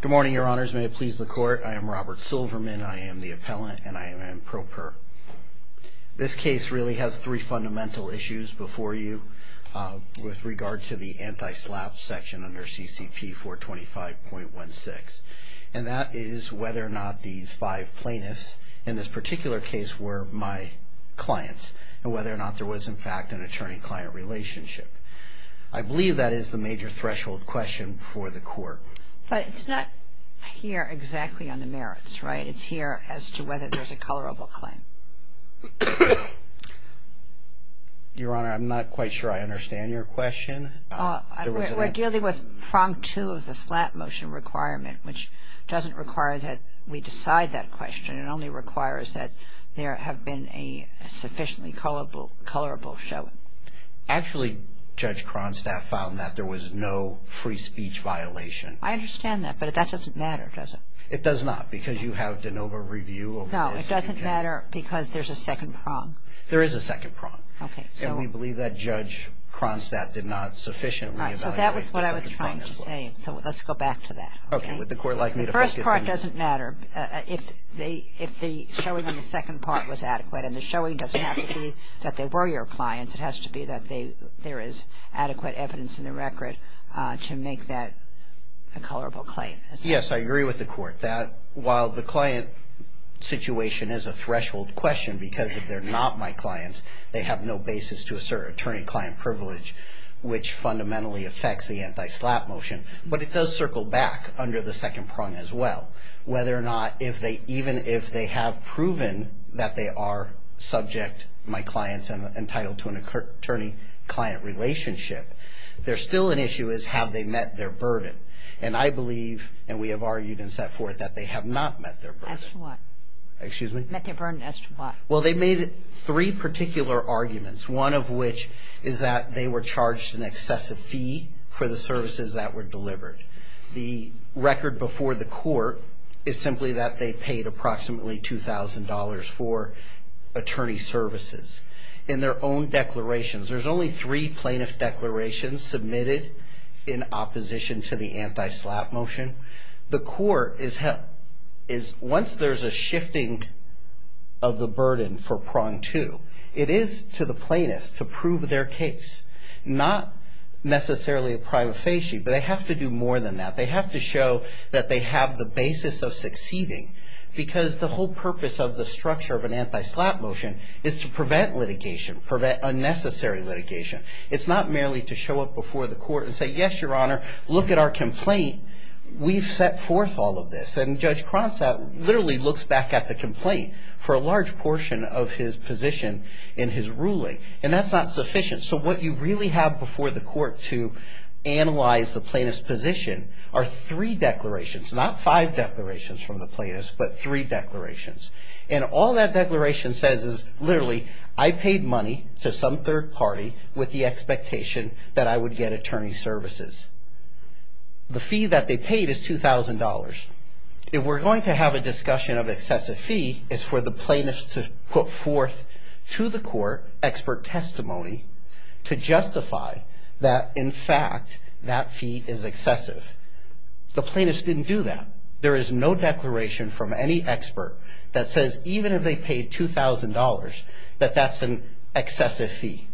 Good morning your honors may it please the court I am Robert Silverman I am the appellant and I am an improper. This case really has three fundamental issues before you with regard to the anti-slap section under CCP 425.16 and that is whether or not these five plaintiffs in this particular case were my clients and whether or not there was in fact an attorney-client relationship. I believe that is the major threshold question for the court. But it's not here exactly on the merits right it's here as to whether there's a colorable claim. Your honor I'm not quite sure I understand your question. We're dealing with prong to the slap motion requirement which doesn't require that we decide that question it only requires that there have been a sufficiently colorable showing. Actually Judge Cronstadt found that there was no free speech violation. I understand that but that doesn't matter does it? It does not because you have de novo review. No it doesn't matter because there's a second prong. There is a second prong. Okay. And we believe that Judge Cronstadt did not sufficiently evaluate the second prong as well. So that was what I was trying to say so let's go back to that. Okay would the court like me to focus. The first part doesn't matter if they if the showing in the second part was adequate and the showing doesn't have to be that they were your clients it has to be that they there is adequate evidence in the record to make that a colorable claim. Yes I agree with the court that while the client situation is a threshold question because if they're not my clients they have no basis to assert attorney-client privilege which fundamentally affects the anti-slap motion but it does circle back under the second prong as well whether or not if they even if they have proven that they are subject my clients and entitled to an attorney-client relationship there's still an issue is have they met their burden and I believe and we have argued and set forth that they have not met their burden. As to what? Excuse me? Met their burden as to what? Well they made three particular arguments one of which is that they were charged an excessive fee for the services that were delivered. The record before the court is simply that they paid approximately two thousand dollars for attorney services. In their own declarations there's only three plaintiff declarations submitted in opposition to the anti-slap motion. The court is held is once there's a shifting of the burden for prong two it is to the plaintiff to prove their case not necessarily a prima facie but they have to do more than that they have to show that they have the basis of succeeding because the whole purpose of the structure of an anti-slap motion is to prevent litigation prevent unnecessary litigation it's not merely to show up before the court and say yes your honor look at our complaint we've set forth all of this and judge Cronstadt literally looks back at the complaint for a large portion of his position in his ruling and that's not sufficient so what you really have before the court to analyze the plaintiff's position are three declarations not five declarations from the plaintiffs but three declarations and all that declaration says is literally I paid money to some third party with the expectation that I would get attorney services. The fee that they paid is two thousand dollars. If we're going to have a discussion of excessive fee it's for the plaintiffs to put forth to the court expert testimony to justify that in fact that fee is excessive. The plaintiffs didn't do that there is no declaration from any expert that says even if they paid two thousand dollars that that's an excessive fee.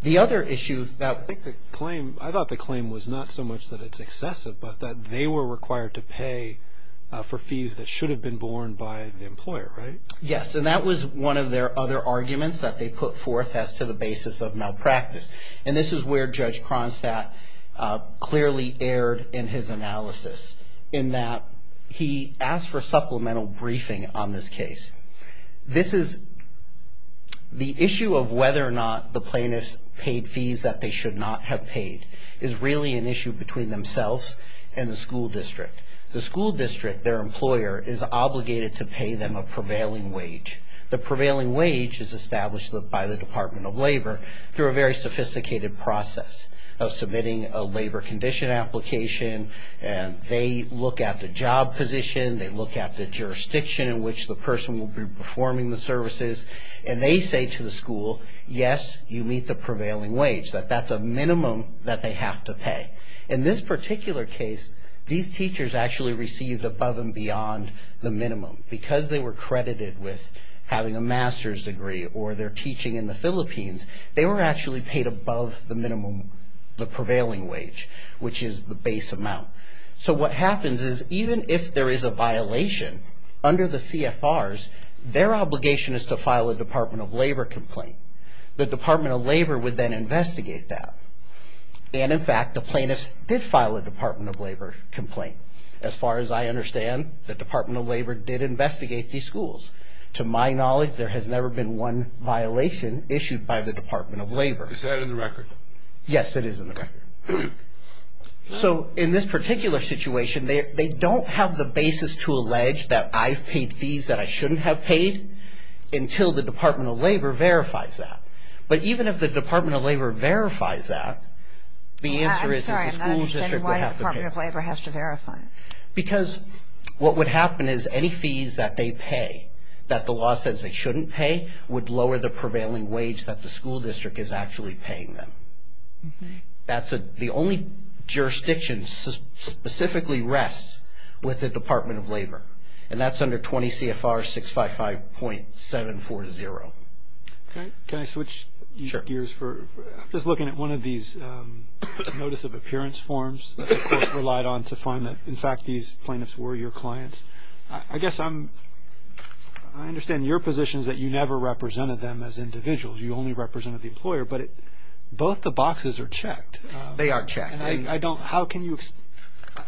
The other issue that I think the claim I thought the claim was not so much that it's excessive but that they were required to pay for fees that should have been borne by the employer right? Yes and that was one of their other arguments that they put forth as to the basis of malpractice and this is where judge Cronstadt clearly erred in his analysis in that he asked for supplemental briefing on this case. This is the issue of whether or not the plaintiffs paid fees that they should not have paid is really an issue between themselves and the school district. The school district their employer is obligated to pay them a prevailing wage. The prevailing wage is established by the Department of Labor through a very sophisticated process of submitting a labor condition application and they look at the job position they look at the jurisdiction in which the person will be performing the services and they say to the school yes you meet the prevailing wage that that's a minimum that they have to pay. In this particular case these teachers actually received above and beyond the minimum because they were credited with having a master's degree or their teaching in the Philippines they were actually paid above the minimum the prevailing wage which is the base amount. So what happens is even if there is a violation under the CFRs their obligation is to file a Department of Labor complaint. The Department of Labor would then investigate that and in fact the plaintiffs did file a Department of Labor complaint as far as I understand the Department of Labor did investigate these schools. To my knowledge there has never been one violation issued by the Department of Labor. Is that in the record? Yes it is in the record. So in this particular situation they don't have the basis to allege that I've paid fees that I shouldn't have paid until the Department of Labor verifies that. But even if the Department of Labor verifies that the answer is that the school district would have to pay. I'm sorry I'm not understanding why the Department of Labor has to verify it. Because what would happen is any fees that they pay that the law says they shouldn't pay would lower the prevailing wage that the school district is actually paying them. That's the only jurisdiction specifically rests with the Department of Labor and that's under 20 CFR 655.740. Can I switch gears for just looking at one of these notice of appearance forms relied on to find that in fact these plaintiffs were your clients. I guess I'm I understand your positions that you never represented them as individuals. You only represented the employer but both the boxes are checked. They are checked. I don't how can you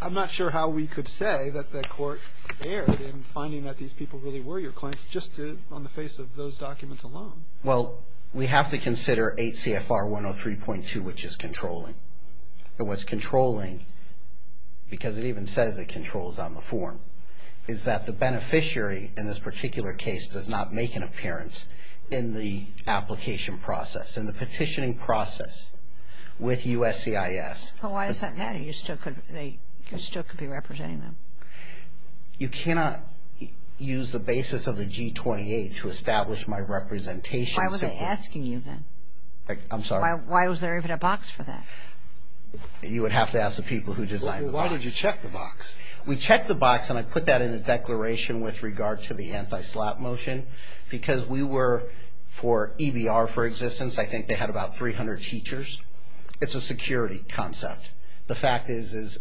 I'm not sure how we could say that the court erred in finding that these people really were your clients just on the basis of those documents alone. Well we have to consider 8 CFR 103.2 which is controlling and what's controlling because it even says it controls on the form is that the beneficiary in this particular case does not make an appearance in the application process in the petitioning process with USCIS. Why is that? You still could be representing them. You cannot use the 28 to establish my representation. Why were they asking you then? I'm sorry. Why was there even a box for that? You would have to ask the people who designed. Why did you check the box? We checked the box and I put that in a declaration with regard to the anti-slap motion because we were for EBR for existence. I think they had about 300 teachers. It's a security concept. The fact is is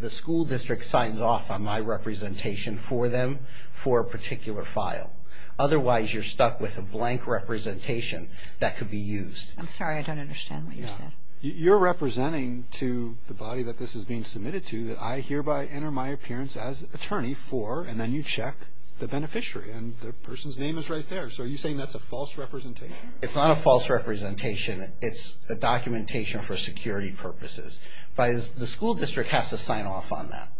the school district signs off on my representation for them for a particular file. Otherwise you're stuck with a blank representation that could be used. I'm sorry I don't understand what you're saying. You're representing to the body that this is being submitted to that I hereby enter my appearance as attorney for and then you check the beneficiary and the person's name is right there. So are you saying that's a false representation? It's not a false representation. It's a documentation for security purposes. The school district has to sign off on that.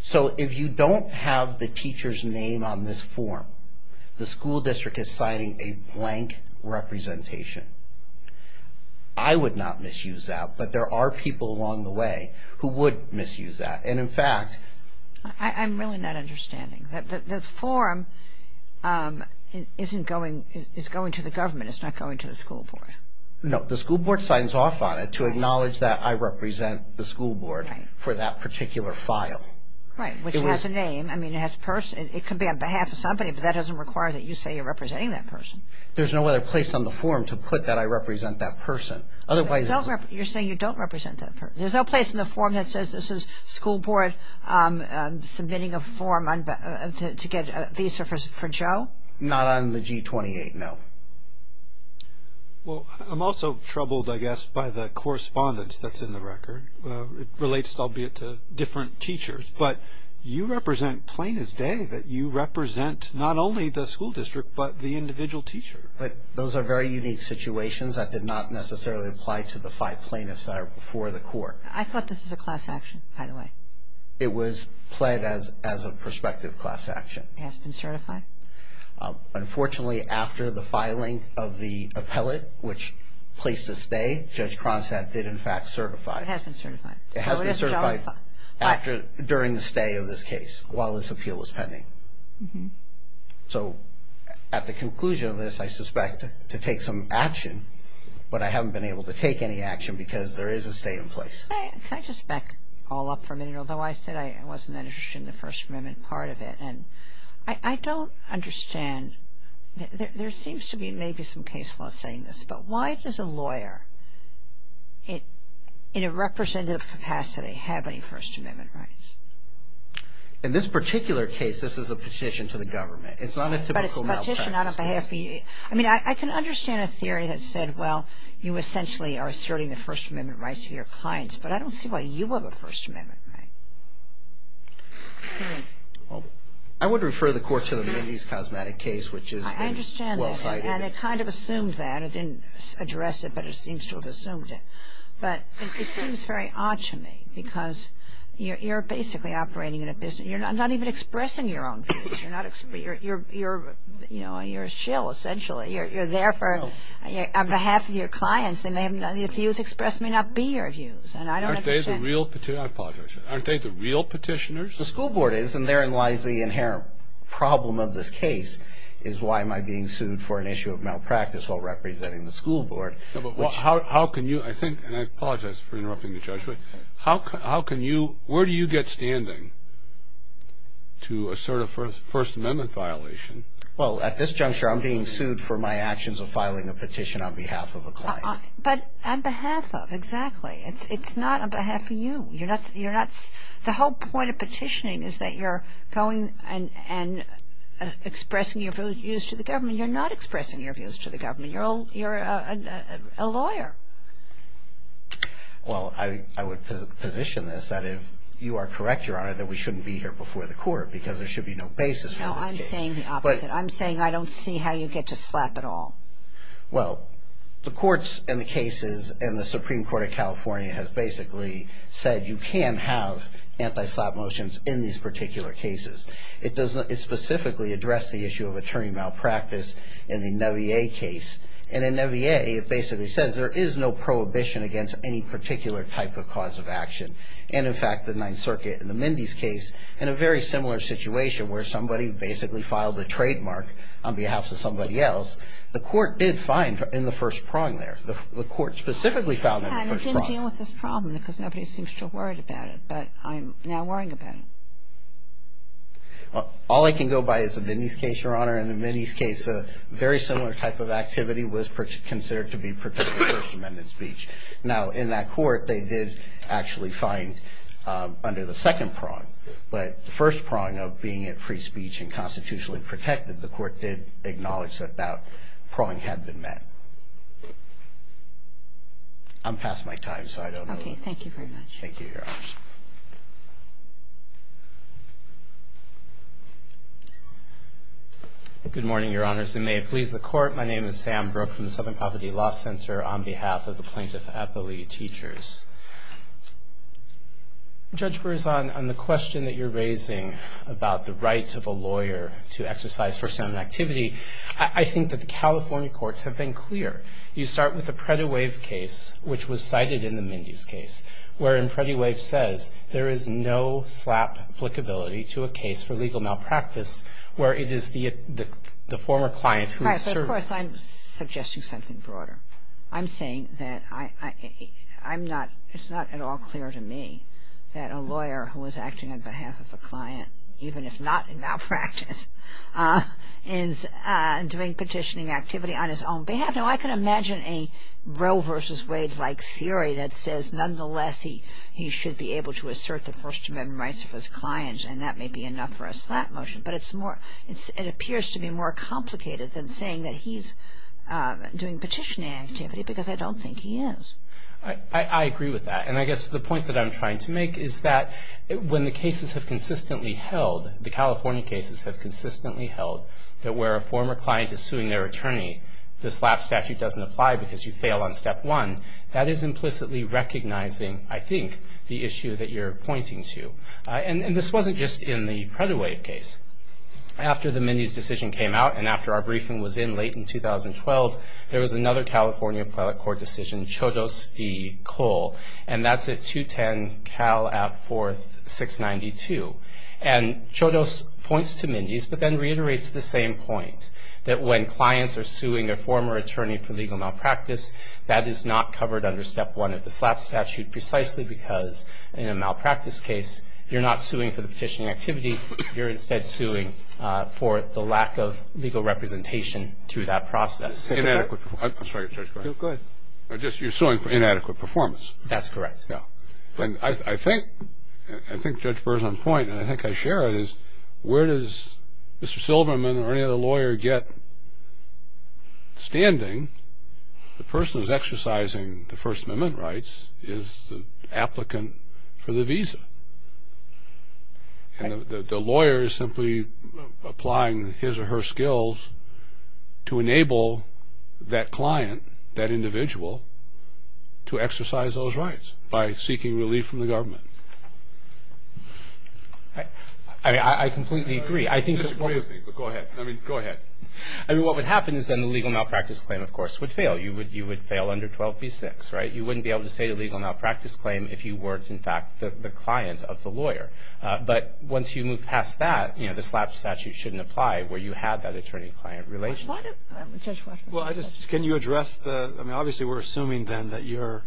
So if you don't have the teacher's name on this form the school district is signing a blank representation. I would not misuse that but there are people along the way who would misuse that and in fact. I'm really not understanding. The form isn't going it's going to the government. It's not going to the school board. No the school board signs off on it to acknowledge that I represent that particular file. Right which has a name. I mean it has a person it could be on behalf of somebody but that doesn't require that you say you're representing that person. There's no other place on the form to put that I represent that person. Otherwise you're saying you don't represent that person. There's no place in the form that says this is school board submitting a form to get a visa for Joe? Not on the G-28 no. Well I'm also troubled I guess by the different teachers but you represent plaintiff's day that you represent not only the school district but the individual teacher. But those are very unique situations that did not necessarily apply to the five plaintiffs that are before the court. I thought this is a class action by the way. It was pled as as a prospective class action. It has been certified? Unfortunately after the filing of the appellate which placed a stay Judge Cronstadt did in fact certify. It has been certified? It has been certified. During the stay of this case while this appeal was pending. So at the conclusion of this I suspect to take some action but I haven't been able to take any action because there is a stay in place. Can I just back all up for a minute although I said I wasn't that interested in the First Amendment part of it and I don't understand there seems to be maybe some case law saying this but why does a lawyer it in a representative capacity have any First Amendment rights? In this particular case this is a petition to the government. It's not a typical. I mean I can understand a theory that said well you essentially are asserting the First Amendment rights of your clients but I don't see why you have a First Amendment right. I would refer the court to the Mindy's cosmetic case which is well cited. And it kind of assumed that. It didn't address it but it seems to have assumed it. But it seems very odd to me because you're basically operating in a business. You're not even expressing your own views. You're not. You're you know you're a shill essentially. You're there for on behalf of your clients. They may have none of the views expressed may not be your views and I don't understand. Aren't they the real. I apologize. Aren't they the real petitioners? The school board is and therein lies the inherent problem of this case is why am I being sued for an issue of malpractice while representing the school board. How can you I think and I apologize for interrupting the judgment. How can you where do you get standing to assert a First Amendment violation? Well at this juncture I'm being sued for my actions of filing a petition on behalf of a client. But on behalf of exactly. It's not on behalf of you. You're not. You're not. The whole point of petitioning is that you're going and and expressing your views to the government. You're not expressing your views to the government. You're all you're a lawyer. Well I would position this that if you are correct your honor that we shouldn't be here before the court because there should be no basis. No I'm saying the opposite. I'm saying I don't see how you get to slap at all. Well the courts and the cases and the Supreme Court of California has basically said you can have anti-slap motions in these particular cases. It doesn't specifically address the issue of attorney malpractice in the Neville case. And in Neville it basically says there is no prohibition against any particular type of cause of action. And in fact the Ninth Circuit in the Mindy's case in a very similar situation where somebody basically filed the trademark on behalf of somebody else. The court did fine in the first prong there. The court specifically found that. I didn't deal with this problem because nobody seems to worry about it. But I'm now worrying about it. All I can go by is the Mindy's case, your honor. In the Mindy's case a very similar type of activity was considered to be particular First Amendment speech. Now in that court they did actually find under the second prong. But the first prong of being at free speech and constitutionally protected the court did acknowledge that that prong had been met. I'm past my time to answer your questions. I don't know. Okay. Thank you very much. Thank you, Your Honor. Good morning, Your Honors. And may it please the Court, my name is Sam Brook from the Southern Poverty Law Center on behalf of the plaintiff at the Lee Teachers. Judge Brewers, on the question that you're raising about the rights of a lawyer to exercise First Amendment activity, I think that the California courts have been clear. You start with the Pretty Wave case, which was cited in the Mindy's case, where in Pretty Wave says there is no slap applicability to a case for legal malpractice where it is the former client who is serving. Right, but of course I'm suggesting something broader. I'm saying that I'm not, it's not at all clear to me that a lawyer who was acting on behalf of a client, even if not in malpractice, is doing petitioning activity on his own behalf. Now I can imagine a Roe versus Wade like theory that says nonetheless he should be able to assert the First Amendment rights of his clients and that may be enough for a slap motion. But it's more, it appears to be more complicated than saying that he's doing petitioning activity because I don't think he is. I agree with that. And I guess the point that I'm trying to make is that when the cases have consistently held, the California cases have consistently held, that where a statute doesn't apply because you fail on step one, that is implicitly recognizing, I think, the issue that you're pointing to. And this wasn't just in the Pretty Wave case. After the Mindy's decision came out and after our briefing was in late in 2012, there was another California Appellate Court decision, Chodos v. Cole, and that's at 210-Cal-Ab-4th-692. And Chodos points to Mindy's but then reiterates the same point, that when clients are suing their former attorney for legal malpractice, that is not covered under step one of the slap statute precisely because in a malpractice case you're not suing for the petitioning activity, you're instead suing for the lack of legal representation through that process. Inadequate performance. I'm sorry, Judge, go ahead. Go ahead. You're suing for inadequate performance. That's correct. Now, I think Judge Burr's on point and I think I share it is where does Mr. Lawyer get standing? The person who's exercising the First Amendment rights is the applicant for the visa and the lawyer is simply applying his or her skills to enable that client, that individual, to exercise those rights by seeking relief from the government. I completely agree. I disagree with you, but go ahead. I mean, go ahead. I mean, what would happen is then the legal malpractice claim, of course, would fail. You would fail under 12b-6, right? You wouldn't be able to say a legal malpractice claim if you weren't, in fact, the client of the lawyer. But once you move past that, you know, the slap statute shouldn't apply where you have that attorney-client relationship. Well, I just, can you address the, I mean, obviously we're assuming then that your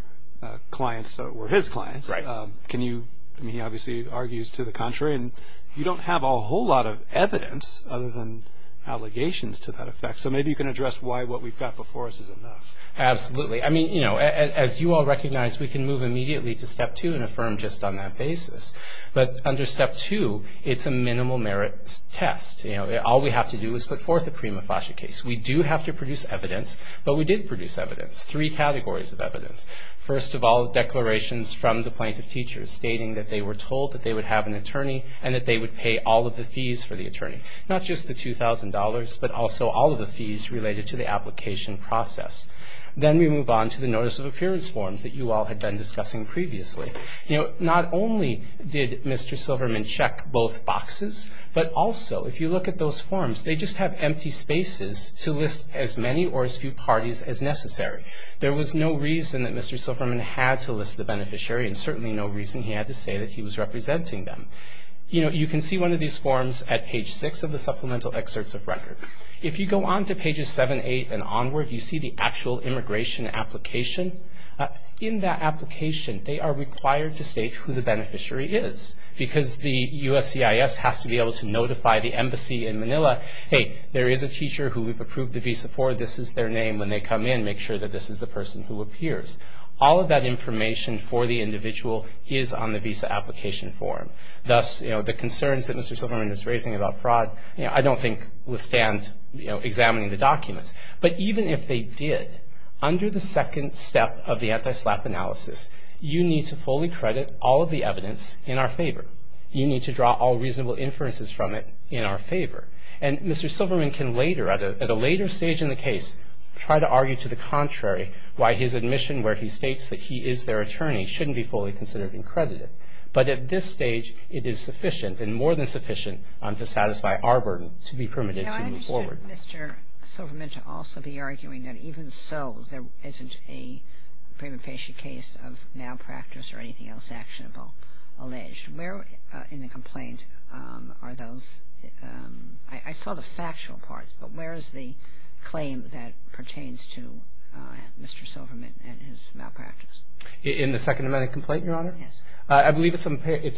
clients were his clients. Right. Can you, I mean, he obviously argues to the contrary. And you don't have a whole lot of evidence other than allegations to that effect. So maybe you can address why what we've got before us isn't enough. Absolutely. I mean, you know, as you all recognize, we can move immediately to Step 2 and affirm just on that basis. But under Step 2, it's a minimal merits test. You know, all we have to do is put forth a pre-mufflation case. We do have to produce evidence, but we did produce evidence, three categories of evidence. First of all, declarations from the plaintiff's teachers stating that they were of an attorney and that they would pay all of the fees for the attorney. Not just the $2,000, but also all of the fees related to the application process. Then we move on to the Notice of Appearance forms that you all had been discussing previously. You know, not only did Mr. Silverman check both boxes, but also if you look at those forms, they just have empty spaces to list as many or as few parties as necessary. There was no reason that Mr. Silverman had to list the beneficiary and certainly no reason he had to say that he was representing them. You know, you can see one of these forms at page 6 of the Supplemental Excerpts of Record. If you go on to pages 7, 8 and onward, you see the actual immigration application. In that application, they are required to state who the beneficiary is because the USCIS has to be able to notify the embassy in Manila, hey, there is a teacher who we've approved the visa for. This is their name. When they come in, make sure that this is the person who appears. All of that information for the individual is on the visa application form. Thus, you know, the concerns that Mr. Silverman is raising about fraud, I don't think withstand examining the documents. But even if they did, under the second step of the anti-SLAPP analysis, you need to fully credit all of the evidence in our favor. You need to draw all reasonable inferences from it in our favor. And Mr. Silverman can later, at a later stage in the case, try to argue to the contrary why his admission where he states that he is their attorney shouldn't be fully considered and credited. But at this stage, it is sufficient and more than sufficient to satisfy our burden to be permitted to move forward. Now, I understand Mr. Silverman to also be arguing that even so, there isn't a premonition case of malpractice or anything else actionable alleged. Where in the complaint are those – I saw the factual part, but where is the claim that pertains to Mr. Silverman and his malpractice? In the Second Amended Complaint, Your Honor? Yes. I believe it's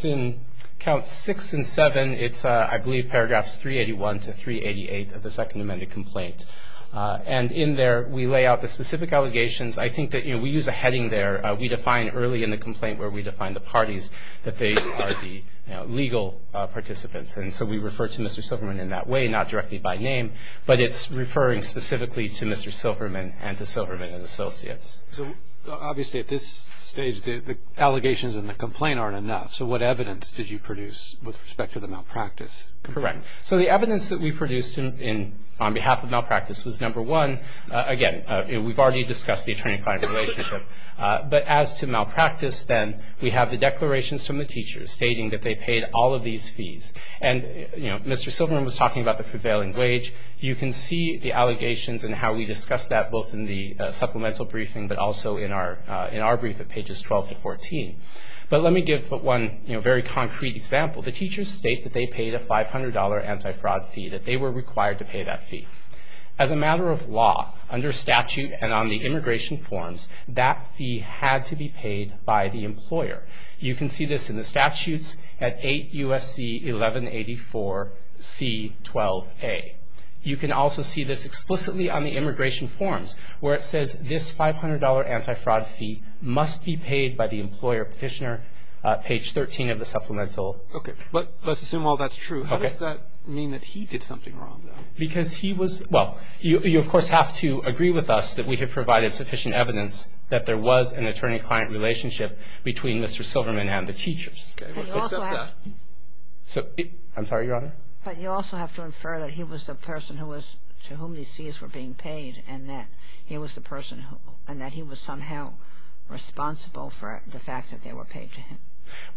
in Counts 6 and 7. It's, I believe, paragraphs 381 to 388 of the Second Amended Complaint. And in there, we lay out the specific allegations. I think that, you know, we use a heading there. We define early in the complaint where we define the parties that they are the legal participants. And so we refer to Mr. Silverman in that way, not directly by name, but it's referring specifically to Mr. Silverman and to Silverman and Associates. Obviously, at this stage, the allegations in the complaint aren't enough. So what evidence did you produce with respect to the malpractice? Correct. So the evidence that we produced on behalf of malpractice was, number one, again, we've already discussed the attorney-client relationship. But as to malpractice, then, we have the declarations from the teachers stating that they paid all of these fees. And, you know, Mr. Silverman was talking about the prevailing wage. You can see the allegations and how we discussed that both in the supplemental briefing but also in our brief at pages 12 to 14. But let me give one, you know, very concrete example. The teachers state that they paid a $500 anti-fraud fee, that they were required to pay that fee. As a matter of law, under statute and on the immigration forms, that fee had to be paid by the employer. You can see this in the statutes at 8 U.S.C. 1184C12A. You can also see this explicitly on the immigration forms, where it says this $500 anti-fraud fee must be paid by the employer petitioner, page 13 of the supplemental. Okay. But let's assume all that's true. How does that mean that he did something wrong, though? Because he was, well, you, of course, have to agree with us that we have provided sufficient evidence that there was an attorney-client relationship between Mr. Silverman and the teachers. I'm sorry, Your Honor? But you also have to infer that he was the person to whom these fees were being paid and that he was somehow responsible for the fact that they were paid to him.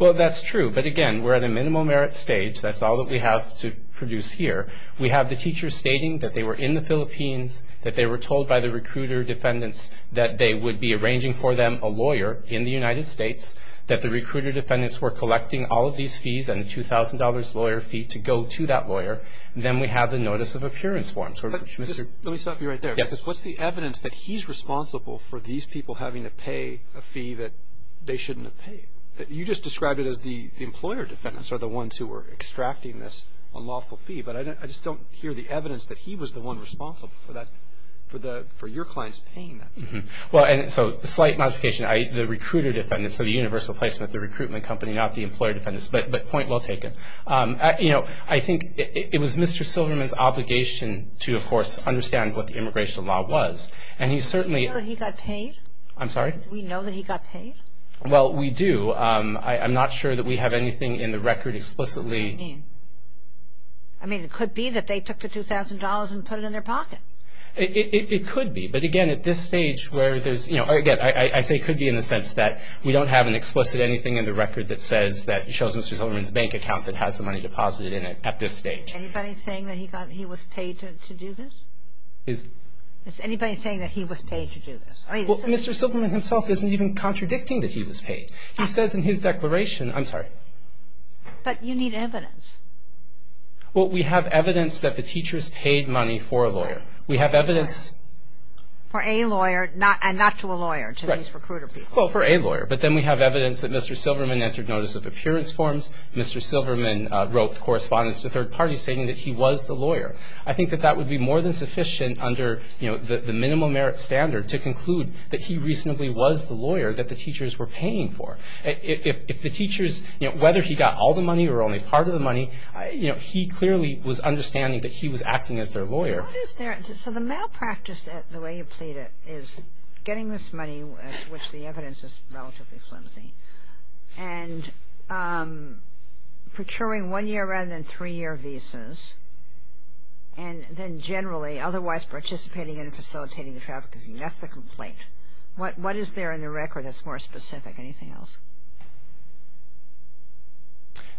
Well, that's true. But, again, we're at a minimum merit stage. That's all that we have to produce here. We have the teachers stating that they were in the Philippines, that they were told by the recruiter defendants that they would be arranging for them a lawyer in the United States, that the recruiter defendants were collecting all of these fees and the $2,000 lawyer fee to go to that lawyer, and then we have the notice of appearance form. Let me stop you right there. Yes. Because what's the evidence that he's responsible for these people having to pay a fee that they shouldn't have paid? You just described it as the employer defendants are the ones who were extracting this unlawful fee, but I just don't hear the evidence that he was the one responsible for your clients paying that fee. Well, and so a slight modification, the recruiter defendants, so the universal placement, the recruitment company, not the employer defendants. But point well taken. I think it was Mr. Silverman's obligation to, of course, understand what the immigration law was. And he certainly – Do we know that he got paid? I'm sorry? Do we know that he got paid? Well, we do. So I'm not sure that we have anything in the record explicitly. I mean, it could be that they took the $2,000 and put it in their pocket. It could be. But, again, at this stage where there's – again, I say could be in the sense that we don't have an explicit anything in the record that says that it shows Mr. Silverman's bank account that has the money deposited in it at this stage. Anybody saying that he was paid to do this? Is anybody saying that he was paid to do this? Well, Mr. Silverman himself isn't even contradicting that he was paid. He says in his declaration – I'm sorry? But you need evidence. Well, we have evidence that the teachers paid money for a lawyer. We have evidence – For a lawyer and not to a lawyer, to these recruiter people. Well, for a lawyer. But then we have evidence that Mr. Silverman entered notice of appearance forms. Mr. Silverman wrote correspondence to third parties stating that he was the lawyer. I think that that would be more than sufficient under the minimum merit standard to conclude that he reasonably was the lawyer that the teachers were paying for. If the teachers – whether he got all the money or only part of the money, he clearly was understanding that he was acting as their lawyer. What is their – so the malpractice, the way you played it, is getting this money, which the evidence is relatively flimsy, and procuring one-year rather than three-year visas, and then generally otherwise participating in and facilitating the trafficking. That's the complaint. What is there in the record that's more specific? Anything else?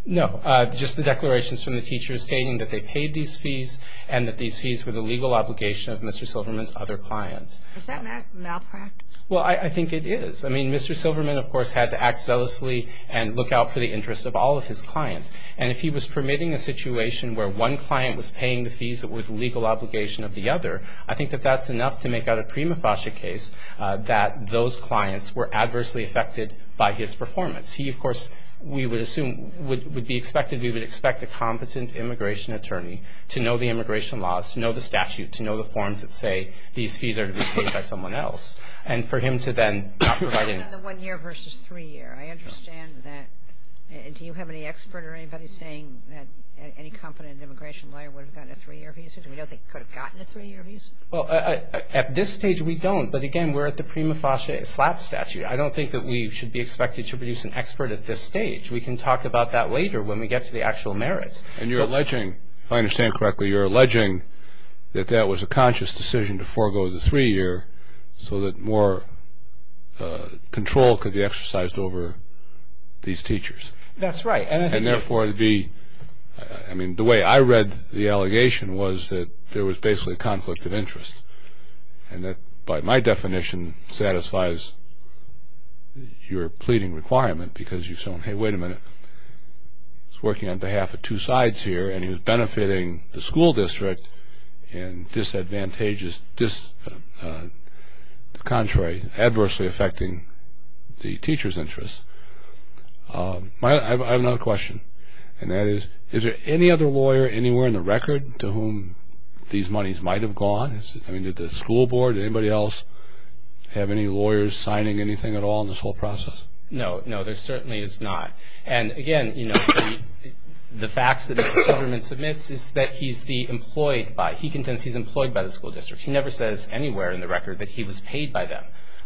No, just the declarations from the teachers stating that they paid these fees and that these fees were the legal obligation of Mr. Silverman's other clients. Is that malpractice? Well, I think it is. I mean, Mr. Silverman, of course, had to act zealously and look out for the interests of all of his clients. And if he was permitting a situation where one client was paying the fees that were the legal obligation of the other, I think that that's enough to make out a prima facie case that those clients were adversely affected by his performance. He, of course, we would assume – would be expected – we would expect a competent immigration attorney to know the immigration laws, to know the statute, to know the forms that say these fees are to be paid by someone else. And for him to then not provide any – Another one-year versus three-year. I understand that. Do you have any expert or anybody saying that any competent immigration lawyer would have gotten a three-year visa? Do we know they could have gotten a three-year visa? Well, at this stage we don't. But, again, we're at the prima facie slap statute. I don't think that we should be expected to produce an expert at this stage. We can talk about that later when we get to the actual merits. And you're alleging, if I understand correctly, you're alleging that that was a conscious decision to forego the three-year so that more control could be exercised over these teachers. That's right. And, therefore, the – I mean, the way I read the allegation was that there was basically a conflict of interest and that, by my definition, satisfies your pleading requirement because you've shown, hey, wait a minute, he's working on behalf of two sides here and he's benefiting the school district and this advantageous – the contrary, adversely affecting the teachers' interests. I have another question, and that is, is there any other lawyer anywhere in the record to whom these monies might have gone? I mean, did the school board, anybody else, have any lawyers signing anything at all in this whole process? No, no, there certainly is not. And, again, you know, the facts that Mr. Silverman submits is that he's the employed by – he contends he's employed by the school district. He never says anywhere in the record that he was paid by them.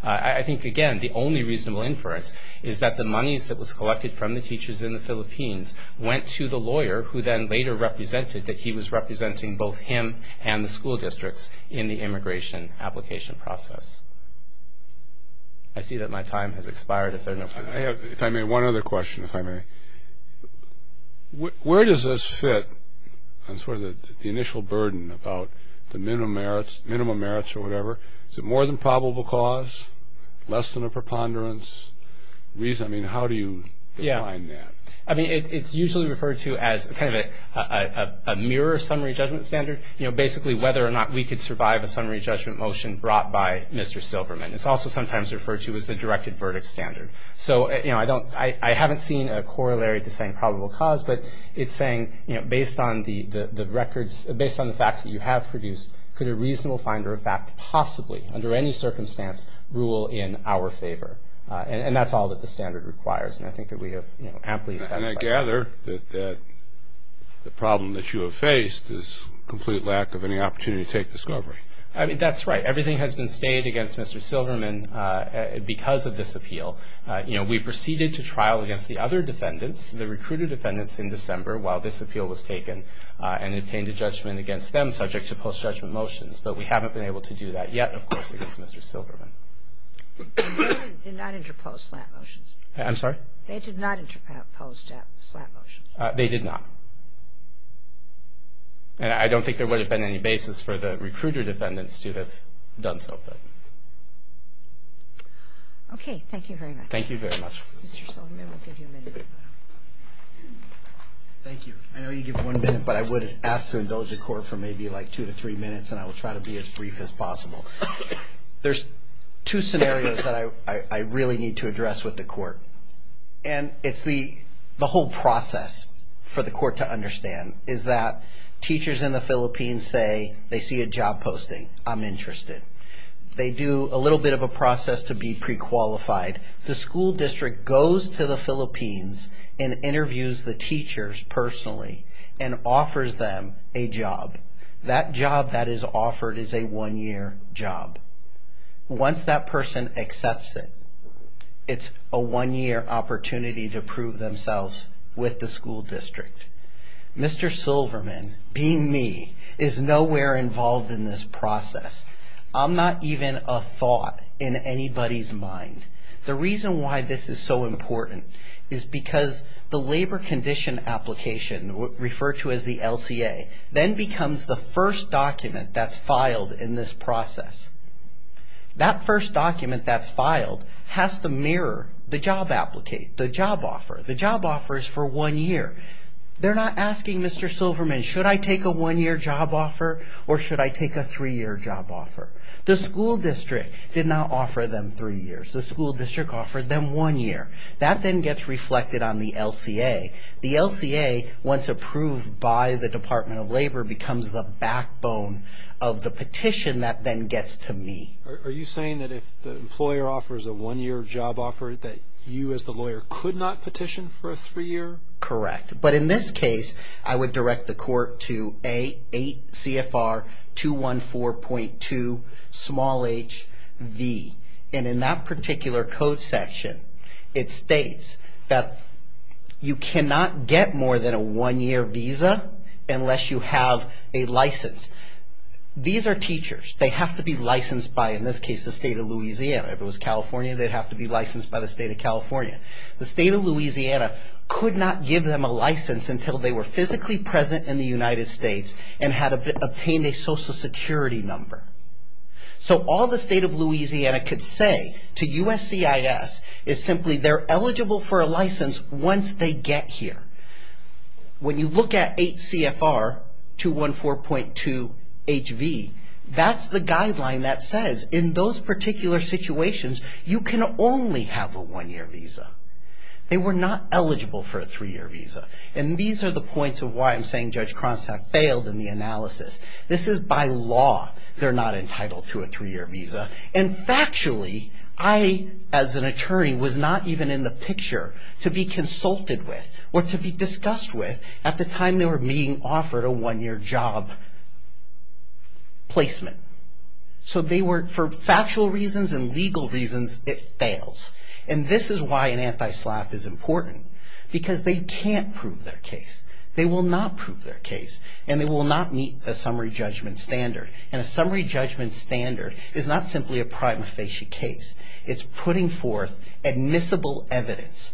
I think, again, the only reasonable inference is that the monies that was collected from the teachers in the Philippines went to the lawyer who then later represented that he was representing both him and the school districts I see that my time has expired. If I may, one other question, if I may. Where does this fit on sort of the initial burden about the minimum merits or whatever? Is it more than probable cause, less than a preponderance? I mean, how do you define that? I mean, it's usually referred to as kind of a mirror summary judgment standard. Basically, whether or not we could survive a summary judgment motion brought by Mr. Silverman. It's also sometimes referred to as the directed verdict standard. So, you know, I don't – I haven't seen a corollary to saying probable cause, but it's saying, you know, based on the records – based on the facts that you have produced, could a reasonable finder of fact possibly, under any circumstance, rule in our favor? And that's all that the standard requires, and I think that we have, you know, amply assessed that. And I gather that the problem that you have faced is complete lack of any opportunity to take discovery. I mean, that's right. Everything has been stayed against Mr. Silverman because of this appeal. You know, we proceeded to trial against the other defendants, the recruiter defendants, in December while this appeal was taken and obtained a judgment against them, subject to post-judgment motions. But we haven't been able to do that yet, of course, against Mr. Silverman. They did not interpose slap motions. I'm sorry? They did not interpose slap motions. They did not. And I don't think there would have been any basis for the recruiter defendants to have done so. Okay. Thank you very much. Thank you very much. Mr. Silverman, we'll give you a minute. Thank you. I know you give one minute, but I would ask to indulge the Court for maybe like two to three minutes, and I will try to be as brief as possible. There's two scenarios that I really need to address with the Court, and it's the whole process for the Court to understand, is that teachers in the Philippines say they see a job posting. I'm interested. They do a little bit of a process to be pre-qualified. The school district goes to the Philippines and interviews the teachers personally and offers them a job. That job that is offered is a one-year job. Once that person accepts it, it's a one-year opportunity to prove themselves with the school district. Mr. Silverman, being me, is nowhere involved in this process. I'm not even a thought in anybody's mind. The reason why this is so important is because the labor condition application, referred to as the LCA, then becomes the first document that's filed in this process. That first document that's filed has to mirror the job offer. The job offer is for one year. They're not asking Mr. Silverman, should I take a one-year job offer or should I take a three-year job offer? The school district did not offer them three years. The school district offered them one year. That then gets reflected on the LCA. The LCA, once approved by the Department of Labor, becomes the backbone of the petition that then gets to me. Are you saying that if the employer offers a one-year job offer, that you as the lawyer could not petition for a three-year? Correct. But in this case, I would direct the court to A8 CFR 214.2 small h v. In that particular code section, it states that you cannot get more than a one-year visa unless you have a license. These are teachers. They have to be licensed by, in this case, the state of Louisiana. If it was California, they'd have to be licensed by the state of California. The state of Louisiana could not give them a license until they were physically present in the United States and had obtained a social security number. All the state of Louisiana could say to USCIS is simply they're eligible for a license once they get here. When you look at A8 CFR 214.2 h v, that's the guideline that says in those particular situations, you can only have a one-year visa. They were not eligible for a three-year visa. These are the points of why I'm saying Judge Cronstadt failed in the analysis. This is by law they're not entitled to a three-year visa. Factually, I, as an attorney, was not even in the picture to be consulted with or to be discussed with at the time they were being offered a one-year job placement. For factual reasons and legal reasons, it fails. This is why an anti-SLAPP is important because they can't prove their case. They will not prove their case, and they will not meet the summary judgment standard. A summary judgment standard is not simply a prima facie case. It's putting forth admissible evidence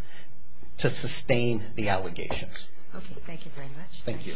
to sustain the allegations. Thank you very much. Thank you.